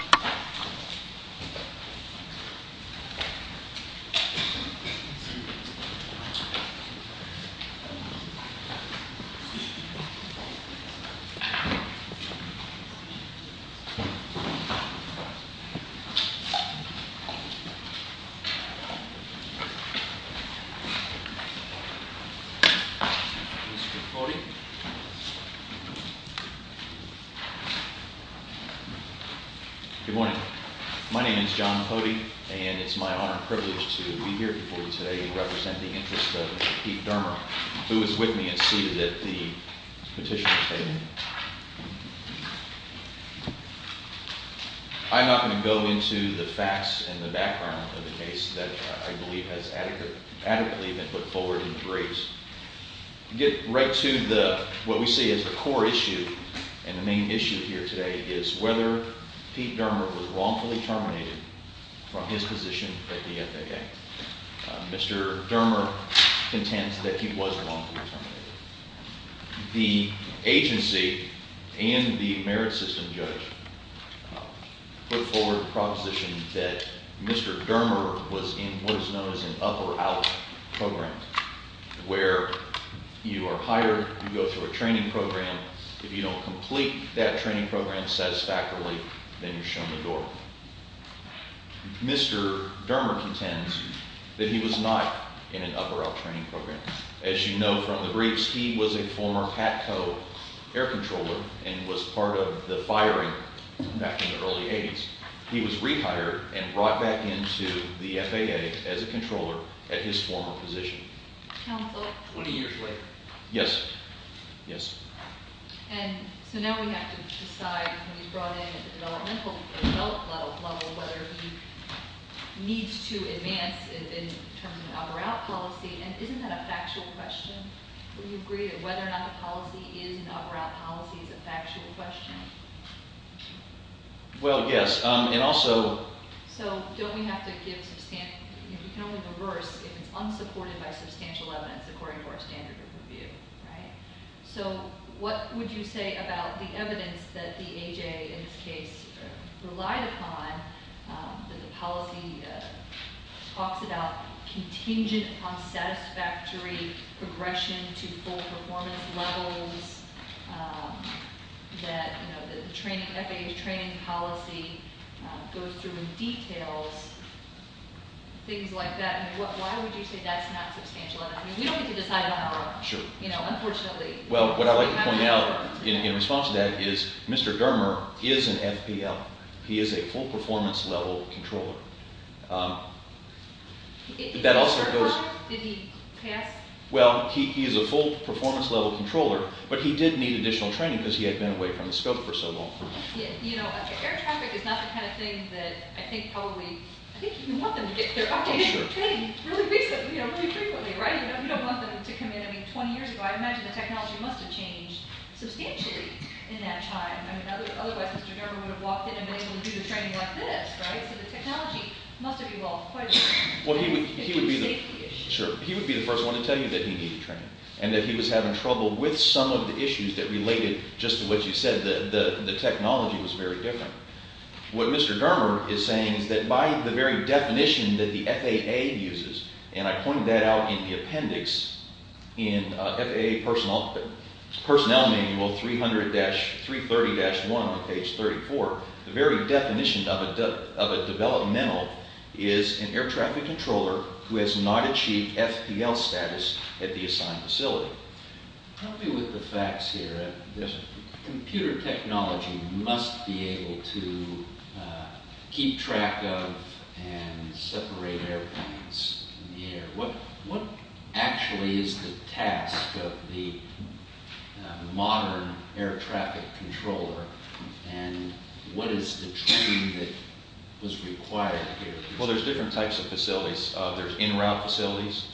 � Good morning. My name is John Cody, and it's my honor and privilege to be here before you today to represent the interest of Pete Dermer, who is with me and seated at the petitioner�s table. I'm not going to go into the facts and the background of the case that I believe has adequately been put forward in the briefs. To get right to what we see as the core issue and the main issue here today is whether Pete Dermer was wrongfully terminated from his position at the FAA. Mr. Dermer contends that he was wrongfully terminated. The agency and the merit system judge put forward the proposition that Mr. Dermer was in what is known as an up-or-out program, where you are hired, you go through a training program. If you don't complete that training program satisfactorily, then you're shown the door. Mr. Dermer contends that he was not in an up-or-out training program. As you know from the briefs, he was a former PATCO air controller and was part of the firing back in the early 80s. He was rehired and brought back into the FAA as a controller at his former position. 20 years later? Yes. And so now we have to decide when he's brought in at the developmental level whether he needs to advance in terms of an up-or-out policy. And isn't that a factual question? Would you agree that whether or not the policy is an up-or-out policy is a factual question? Well, yes. So don't we have to give substantial – we can only go worse if it's unsupported by substantial evidence according to our standard of review, right? So what would you say about the evidence that the AJA in this case relied upon, that the policy talks about contingent on satisfactory progression to full performance levels, that the FAA's training policy goes through details, things like that? Why would you say that's not substantial evidence? We don't get to decide on our own, unfortunately. Well, what I'd like to point out in response to that is Mr. Dermer is an FPL. He is a full performance level controller. Did he pass? Well, he is a full performance level controller, but he did need additional training because he had been away from the scope for so long. You know, air traffic is not the kind of thing that I think probably – I think you want them to get their updated training really frequently, right? You don't want them to come in – I mean, 20 years ago, I imagine the technology must have changed substantially in that time. I mean, otherwise Mr. Dermer would have walked in and been able to do the training like this, right? He would be the first one to tell you that he needed training and that he was having trouble with some of the issues that related just to what you said. The technology was very different. What Mr. Dermer is saying is that by the very definition that the FAA uses, and I pointed that out in the appendix in FAA Personnel Manual 300-330-1 on page 34, the very definition of a developmental is an air traffic controller who has not achieved FPL status at the assigned facility. Help me with the facts here. Yes, sir. Computer technology must be able to keep track of and separate airplanes in the air. What actually is the task of the modern air traffic controller, and what is the training that was required here? Well, there's different types of facilities. There's in-route facilities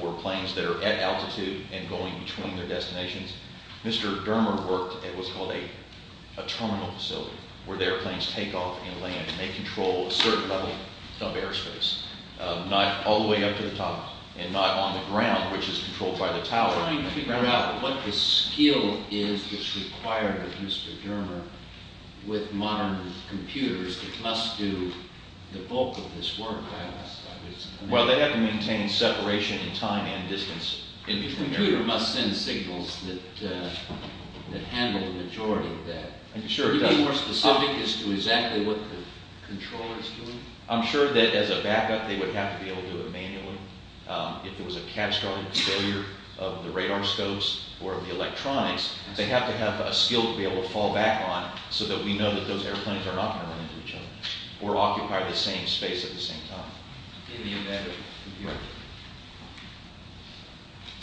for planes that are at altitude and going between their destinations. Mr. Dermer worked at what's called a terminal facility where the airplanes take off and land, and they control a certain level of airspace, not all the way up to the top and not on the ground, which is controlled by the tower. I'm trying to figure out what the skill is that's required of Mr. Dermer with modern computers that must do the bulk of this work. Well, they have to maintain separation in time and distance. And the computer must send signals that handle the majority of that. Are you being more specific as to exactly what the controller is doing? I'm sure that as a backup, they would have to be able to do it manually. If there was a catastrophic failure of the radar scopes or of the electronics, they have to have a skill to be able to fall back on so that we know that those airplanes are not going to run into each other or occupy the same space at the same time in the event of a computer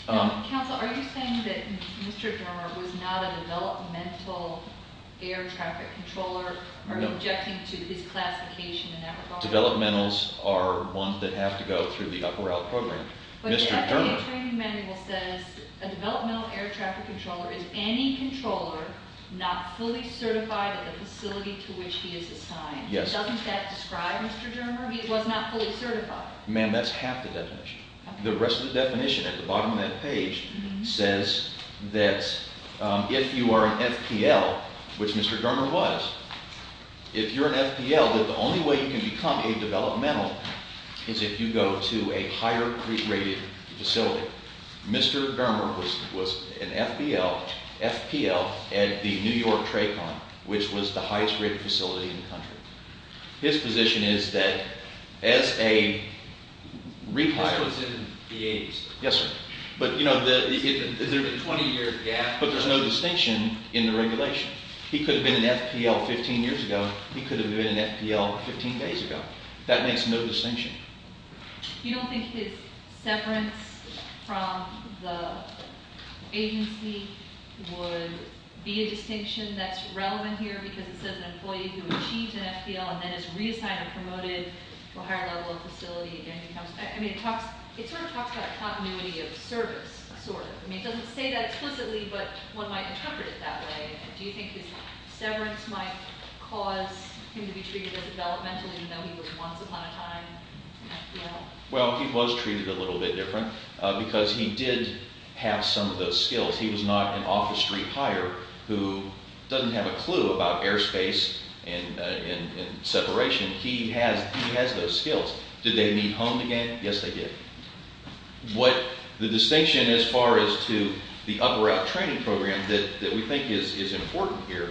error. Counsel, are you saying that Mr. Dermer was not a developmental air traffic controller? Or are you objecting to his classification in that regard? Developmentals are ones that have to go through the up or out program. But the training manual says a developmental air traffic controller is any controller not fully certified at the facility to which he is assigned. Doesn't that describe Mr. Dermer? He was not fully certified. The rest of the definition at the bottom of that page says that if you are an FPL, which Mr. Dermer was, if you're an FPL, that the only way you can become a developmental is if you go to a higher rated facility. Mr. Dermer was an FPL at the New York TRACON, which was the highest rated facility in the country. His position is that as a rehired- This was in the 80s. Yes, sir. But there's no distinction in the regulation. He could have been an FPL 15 years ago. He could have been an FPL 15 days ago. That makes no distinction. You don't think his severance from the agency would be a distinction that's relevant here because it says an employee who achieved an FPL and then is reassigned or promoted to a higher level of facility. It sort of talks about continuity of service, sort of. It doesn't say that explicitly, but one might interpret it that way. Do you think his severance might cause him to be treated as a developmental even though he was once upon a time an FPL? Well, he was treated a little bit different because he did have some of those skills. He was not an off-the-street hire who doesn't have a clue about airspace and separation. He has those skills. Did they meet home again? Yes, they did. The distinction as far as to the upper-out training program that we think is important here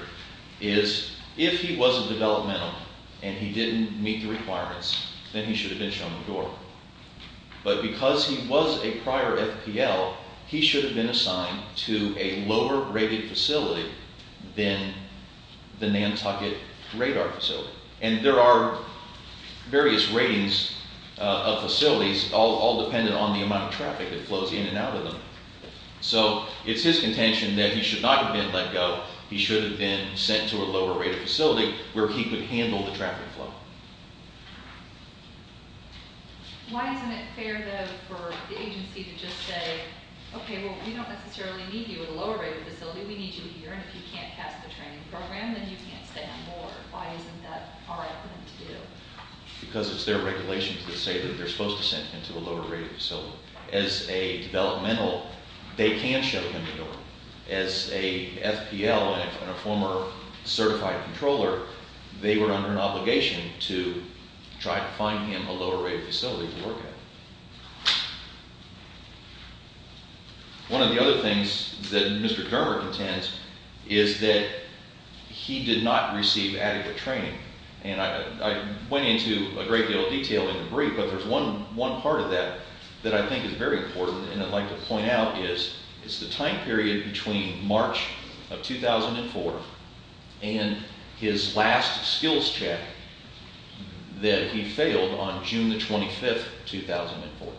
is if he wasn't developmental and he didn't meet the requirements, then he should have been shown the door. But because he was a prior FPL, he should have been assigned to a lower-rated facility than the Nantucket radar facility. And there are various ratings of facilities all dependent on the amount of traffic that flows in and out of them. So it's his contention that he should not have been let go. He should have been sent to a lower-rated facility where he could handle the traffic flow. Why isn't it fair, though, for the agency to just say, okay, well, we don't necessarily need you at a lower-rated facility. We need you here, and if you can't pass the training program, then you can't stay on board. Why isn't that our opinion to do? Because it's their regulations that say that they're supposed to send him to a lower-rated facility. As a developmental, they can show him the door. As a FPL and a former certified controller, they were under an obligation to try to find him a lower-rated facility to work at. One of the other things that Mr. Germer contends is that he did not receive adequate training. And I went into a great deal of detail in the brief, but there's one part of that that I think is very important and I'd like to point out is it's the time period between March of 2004 and his last skills check that he failed on June 25, 2004.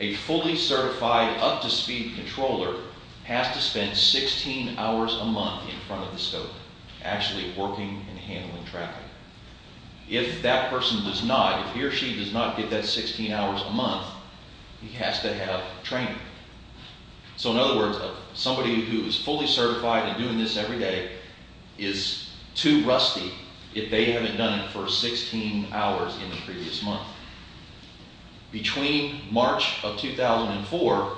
A fully certified, up-to-speed controller has to spend 16 hours a month in front of the scope, actually working and handling traffic. If that person does not, if he or she does not get that 16 hours a month, he has to have training. So in other words, somebody who is fully certified and doing this every day is too rusty if they haven't done it for 16 hours in the previous month. Between March of 2004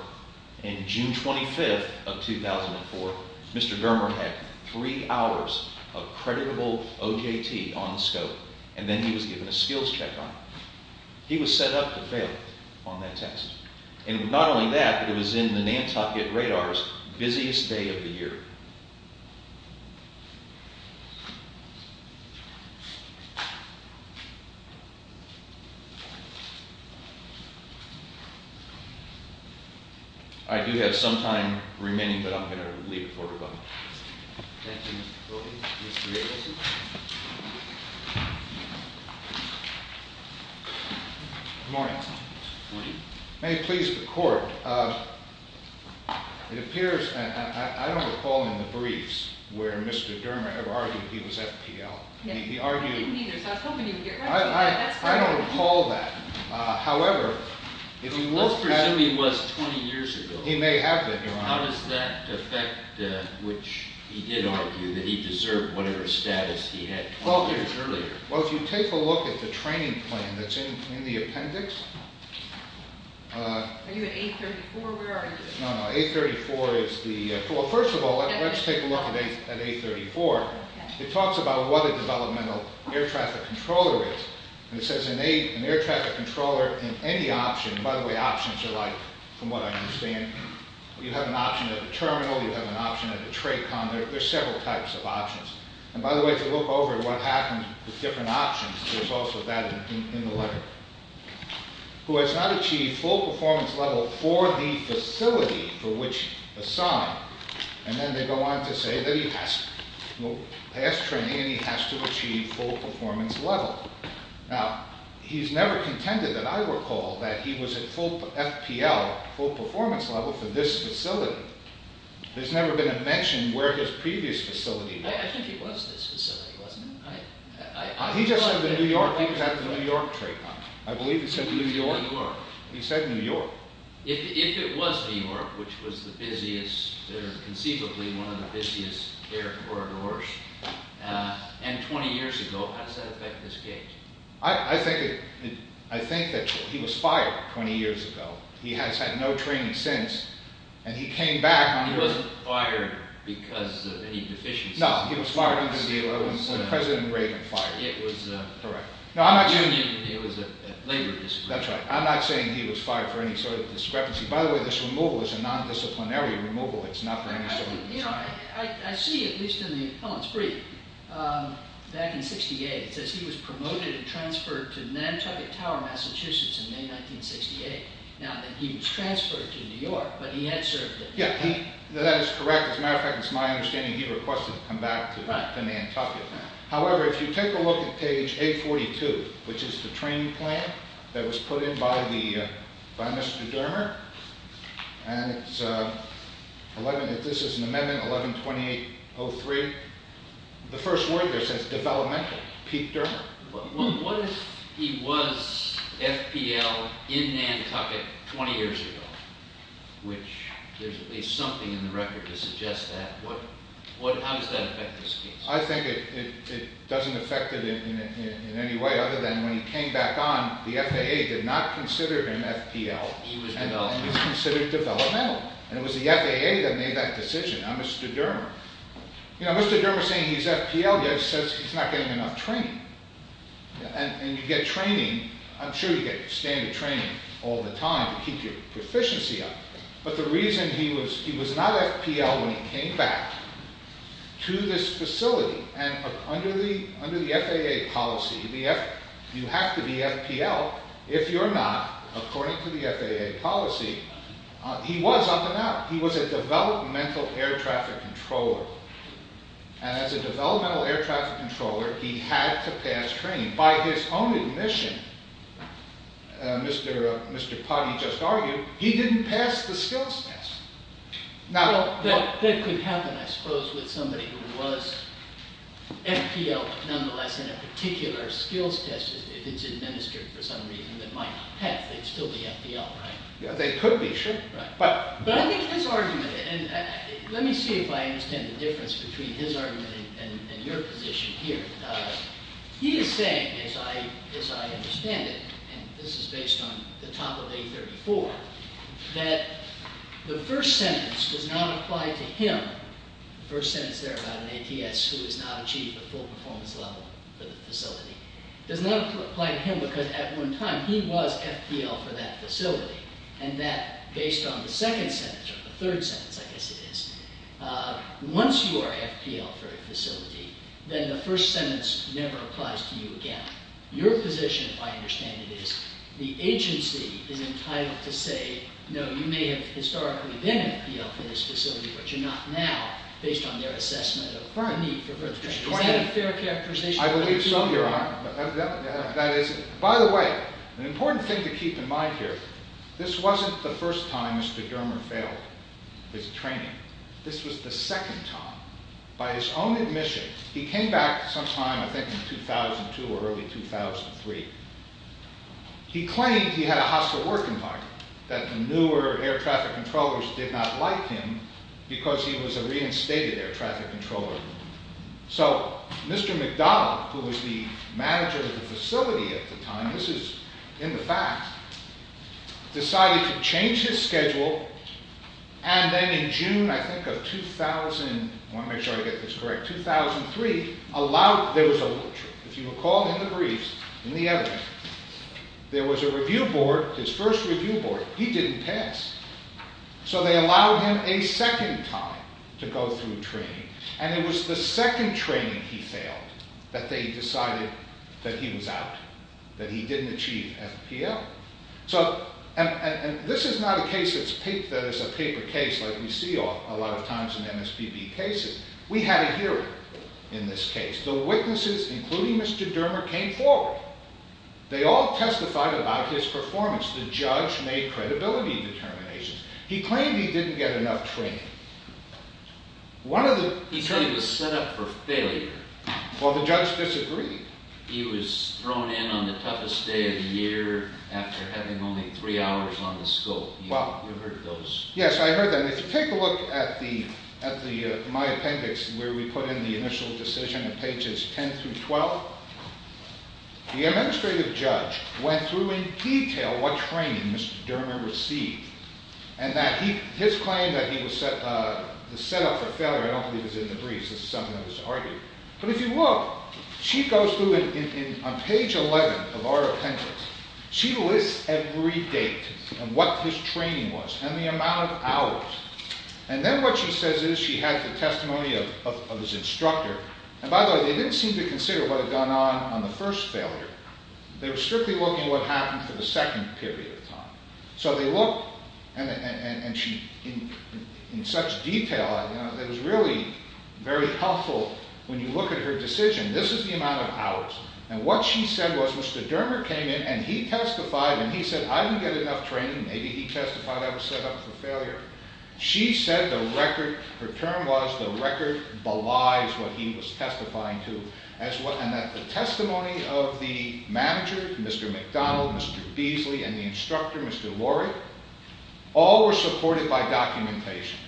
and June 25, 2004, Mr. Germer had three hours of creditable OJT on the scope and then he was given a skills check on it. He was set up to fail on that test. And not only that, but it was in the Nantucket Radar's busiest day of the year. I do have some time remaining, but I'm going to leave it for rebuttal. Good morning. May it please the Court. It appears, I don't recall in the briefs where Mr. Germer ever argued he was FPL. I didn't either, so I was hoping you would get right to that. I don't recall that. However, if he worked at— Let's presume he was 20 years ago. He may have been, Your Honor. How does that affect, which he did argue, that he deserved whatever status he had 12 years earlier? Well, if you take a look at the training plan that's in the appendix— Are you at A34? Where are you? No, no. A34 is the— Well, first of all, let's take a look at A34. It talks about what a developmental air traffic controller is. And it says an air traffic controller in any option— By the way, options are like, from what I understand, you have an option at the terminal, you have an option at the TRACON. There are several types of options. And by the way, if you look over at what happens with different options, there's also that in the letter. Who has not achieved full performance level for the facility for which assigned. And then they go on to say that he has. Well, past training, and he has to achieve full performance level. Now, he's never contended that I recall that he was at full FPL, full performance level, for this facility. There's never been a mention where his previous facility was. I think it was this facility, wasn't it? He just said the New York—he was at the New York TRACON. I believe he said New York. He said New York. If it was New York, which was the busiest, or conceivably one of the busiest air corridors, and 20 years ago, how does that affect this gate? I think that he was fired 20 years ago. He has had no training since, and he came back— He wasn't fired because of any deficiencies. No, he was fired when President Reagan fired him. It was correct. No, I'm not saying— It was a labor dispute. That's right. I'm not saying he was fired for any sort of discrepancy. By the way, this removal is a nondisciplinary removal. It's not for any sort of— I see, at least in the appellant's brief, back in 1968, it says he was promoted and transferred to Nantucket Tower, Massachusetts, in May 1968, now that he was transferred to New York, but he had served there. Yeah, that is correct. As a matter of fact, it's my understanding he requested to come back to Nantucket. However, if you take a look at page 842, which is the training plan that was put in by Mr. Dermer, and this is an amendment, 11-2803, the first word there says developmental, Pete Dermer. What if he was FPL in Nantucket 20 years ago, which there's at least something in the record to suggest that. How does that affect this case? I think it doesn't affect it in any way, other than when he came back on, the FAA did not consider him FPL. He was developmental. He was considered developmental. And it was the FAA that made that decision, not Mr. Dermer. You know, Mr. Dermer saying he's FPL just says he's not getting enough training. And you get training—I'm sure you get standard training all the time to keep your proficiency up. But the reason he was not FPL when he came back to this facility, and under the FAA policy, you have to be FPL. If you're not, according to the FAA policy, he was up and out. He was a developmental air traffic controller. And as a developmental air traffic controller, he had to pass training. And by his own admission, Mr. Potty just argued, he didn't pass the skills test. That could happen, I suppose, with somebody who was FPL, nonetheless, in a particular skills test if it's administered for some reason that might not pass. They'd still be FPL, right? They could be, sure. But I think his argument—and let me see if I understand the difference between his argument and your position here. He is saying, as I understand it, and this is based on the top of A34, that the first sentence does not apply to him—the first sentence there about an ATS who has not achieved a full performance level for the facility— does not apply to him because at one time he was FPL for that facility, and that based on the second sentence, or the third sentence, I guess it is, once you are FPL for a facility, then the first sentence never applies to you again. Your position, if I understand it, is the agency is entitled to say, no, you may have historically been FPL for this facility, but you're not now based on their assessment of the need for further training. Is that a fair characterization? I believe so, Your Honor. That is—by the way, an important thing to keep in mind here, this wasn't the first time Mr. Dermer failed his training. This was the second time. By his own admission, he came back sometime, I think, in 2002 or early 2003. He claimed he had a hostile work environment, that the newer air traffic controllers did not like him because he was a reinstated air traffic controller. So, Mr. McDonald, who was the manager of the facility at the time—this is in the facts— decided to change his schedule, and then in June, I think, of 2000— I want to make sure I get this correct—2003, allowed— there was a little trick. If you recall in the briefs, in the evidence, there was a review board, his first review board, he didn't pass. So they allowed him a second time to go through training, and it was the second training he failed that they decided that he was out, that he didn't achieve FPL. And this is not a case that is a paper case like we see a lot of times in MSPB cases. We had a hearing in this case. The witnesses, including Mr. Dermer, came forward. They all testified about his performance. The judge made credibility determinations. He claimed he didn't get enough training. He said he was set up for failure. Well, the judge disagreed. He was thrown in on the toughest day of the year after having only three hours on the scope. You heard those. Yes, I heard that. If you take a look at my appendix where we put in the initial decision in pages 10 through 12, the administrative judge went through in detail what training Mr. Dermer received and that his claim that he was set up for failure— I don't believe it's in the briefs. This is something that was argued. But if you look, she goes through on page 11 of our appendix. She lists every date and what his training was and the amount of hours. And then what she says is she has the testimony of his instructor. And by the way, they didn't seem to consider what had gone on on the first failure. They were strictly looking at what happened for the second period of time. And in such detail, it was really very helpful when you look at her decision. This is the amount of hours. And what she said was Mr. Dermer came in and he testified and he said, I didn't get enough training. Maybe he testified I was set up for failure. She said the record—her term was the record belies what he was testifying to. And that the testimony of the manager, Mr. McDonald, Mr. Beasley, and the instructor, Mr. Lori, all were supported by documentation.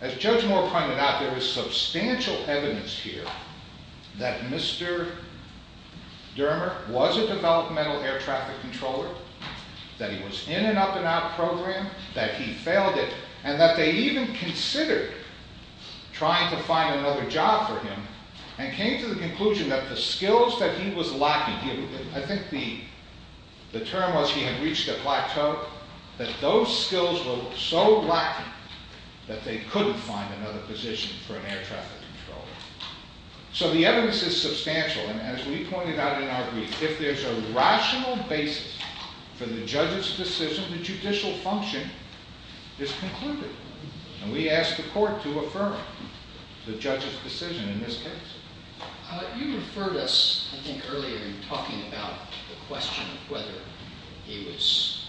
As Judge Moore pointed out, there is substantial evidence here that Mr. Dermer was a developmental air traffic controller, that he was in an up-and-out program, that he failed it, and that they even considered trying to find another job for him and came to the conclusion that the skills that he was lacking— I think the term was he had reached a plateau— that those skills were so lacking that they couldn't find another position for an air traffic controller. So the evidence is substantial. And as we pointed out in our brief, if there's a rational basis for the judge's decision, the judicial function is concluded. And we ask the court to affirm the judge's decision in this case. You referred us, I think, earlier in talking about the question of whether he was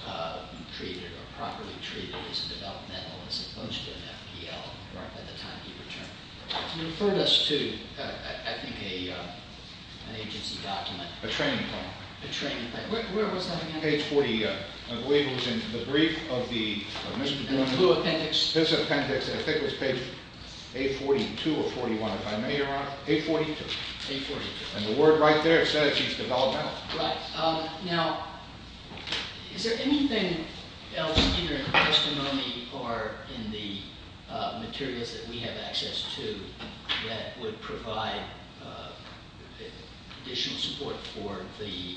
treated or properly treated as a developmental as opposed to an FDL at the time he returned. You referred us to, I think, an agency document. A training plan. A training plan. Where was that again? Page 41. I believe it was in the brief of the— Blue Appendix. His appendix, I think it was page 842 or 841 if I'm not wrong. 842. 842. And the word right there says he's developmental. Right. Now, is there anything else, either in the testimony or in the materials that we have access to, that would provide additional support for the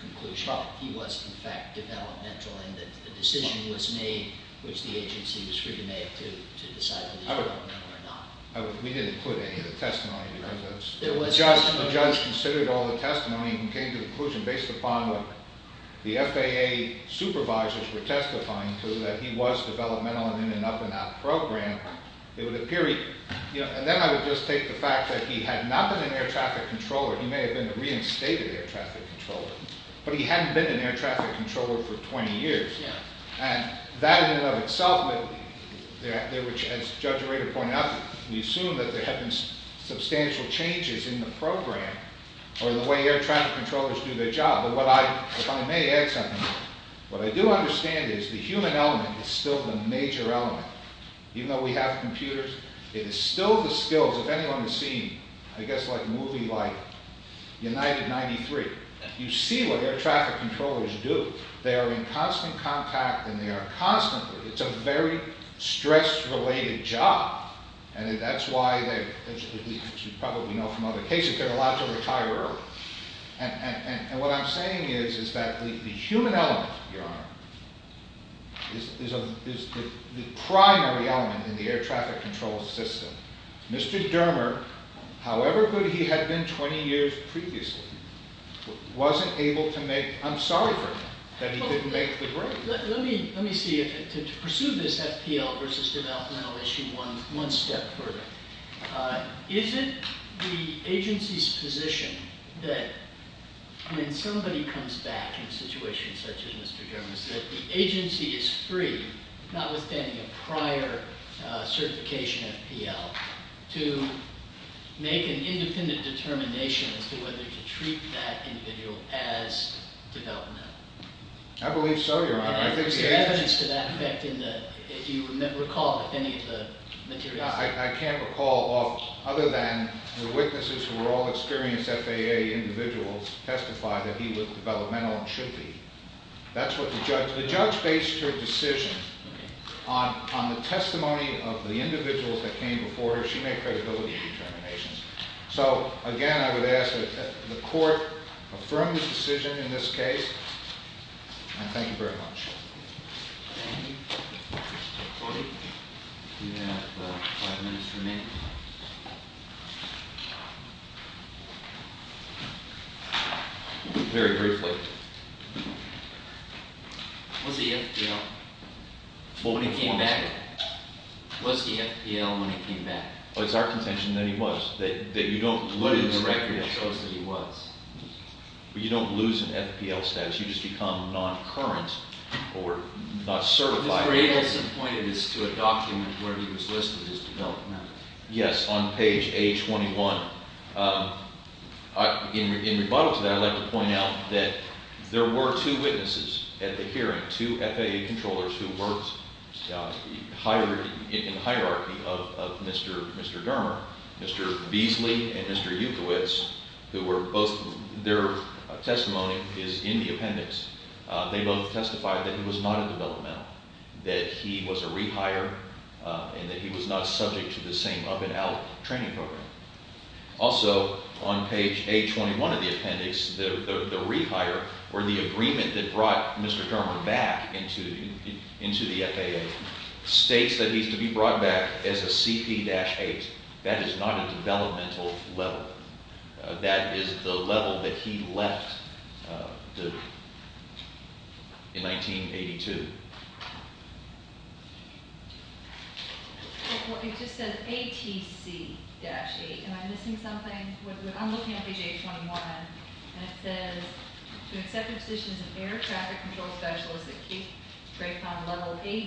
conclusion that he was, in fact, developmental and that the decision was made, which the agency was free to make, to decide whether he was developmental or not? We didn't put any of the testimony. The judge considered all the testimony and came to the conclusion based upon what the FAA supervisors were testifying to, that he was developmental and in an up-and-out program. It would appear he—and then I would just take the fact that he had not been an air traffic controller. He may have been a reinstated air traffic controller, but he hadn't been an air traffic controller for 20 years. Yeah. And that in and of itself, as Judge Rader pointed out, we assume that there have been substantial changes in the program or the way air traffic controllers do their job. But if I may add something, what I do understand is the human element is still the major element. Even though we have computers, it is still the skills, if anyone has seen, I guess, a movie like United 93, you see what air traffic controllers do. They are in constant contact and they are constantly— it's a very stress-related job. And that's why, as you probably know from other cases, they're allowed to retire early. And what I'm saying is that the human element, Your Honor, is the primary element in the air traffic control system. Mr. Dermer, however good he had been 20 years previously, wasn't able to make—I'm sorry for him that he couldn't make the break. Let me see. To pursue this FPL versus developmental issue one step further, is it the agency's position that when somebody comes back in a situation such as Mr. Dermer's, that the agency is free, notwithstanding a prior certification FPL, to make an independent determination as to whether to treat that individual as developmental? I believe so, Your Honor. Is there evidence to that effect? Do you recall any of the materials? I can't recall, other than the witnesses who were all experienced FAA individuals testify that he was developmental and should be. That's what the judge—the judge based her decision on the testimony of the individuals that came before her. She made credibility determinations. So, again, I would ask that the court affirm this decision in this case, and thank you very much. Thank you. Mr. Cody? You have five minutes remaining. Very briefly. What's the FPL? When he came back. What's the FPL when he came back? It's our contention that he was. That you don't lose— It's the record that shows that he was. But you don't lose an FPL status. You just become non-current or not certified. Mr. Jacobson pointed this to a document where he was listed as developmental. Yes, on page A21. In rebuttal to that, I'd like to point out that there were two witnesses at the hearing, two FAA controllers who worked in the hierarchy of Mr. Germer, Mr. Beasley and Mr. Jukowicz, who were both— Their testimony is in the appendix. They both testified that he was not a developmental, that he was a rehire, and that he was not subject to the same up-and-out training program. Also, on page A21 of the appendix, the rehire, or the agreement that brought Mr. Germer back into the FAA, states that he's to be brought back as a CP-8. That is not a developmental level. That is the level that he left in 1982. It just says ATC-8. Am I missing something? I'm looking at page A21, and it says, To accept a position as an Air Traffic Control Specialist at Cape Grapevine Level 8,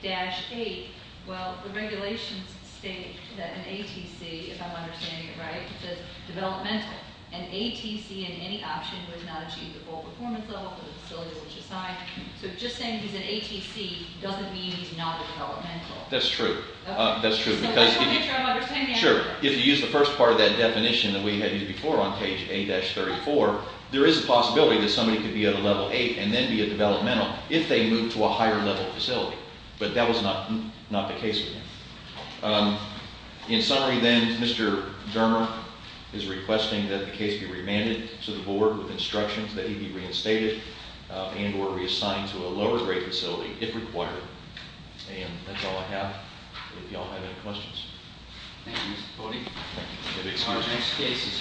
ATC-8. Well, the regulations state that an ATC, if I'm understanding it right, says developmental. An ATC in any option would not achieve the full performance level for the facility which assigned. So just saying he's an ATC doesn't mean he's not a developmental. That's true. I just want to make sure I'm understanding it. Sure. If you use the first part of that definition that we had used before on page A-34, there is a possibility that somebody could be at a Level 8 and then be a developmental if they move to a higher level facility. But that was not the case with him. In summary then, Mr. Germer is requesting that the case be remanded to the board with instructions that he be reinstated and or reassigned to a lower-grade facility, if required. And that's all I have. If you all have any questions. Thank you, Mr. Cody. The next case is Coruscant v. United States.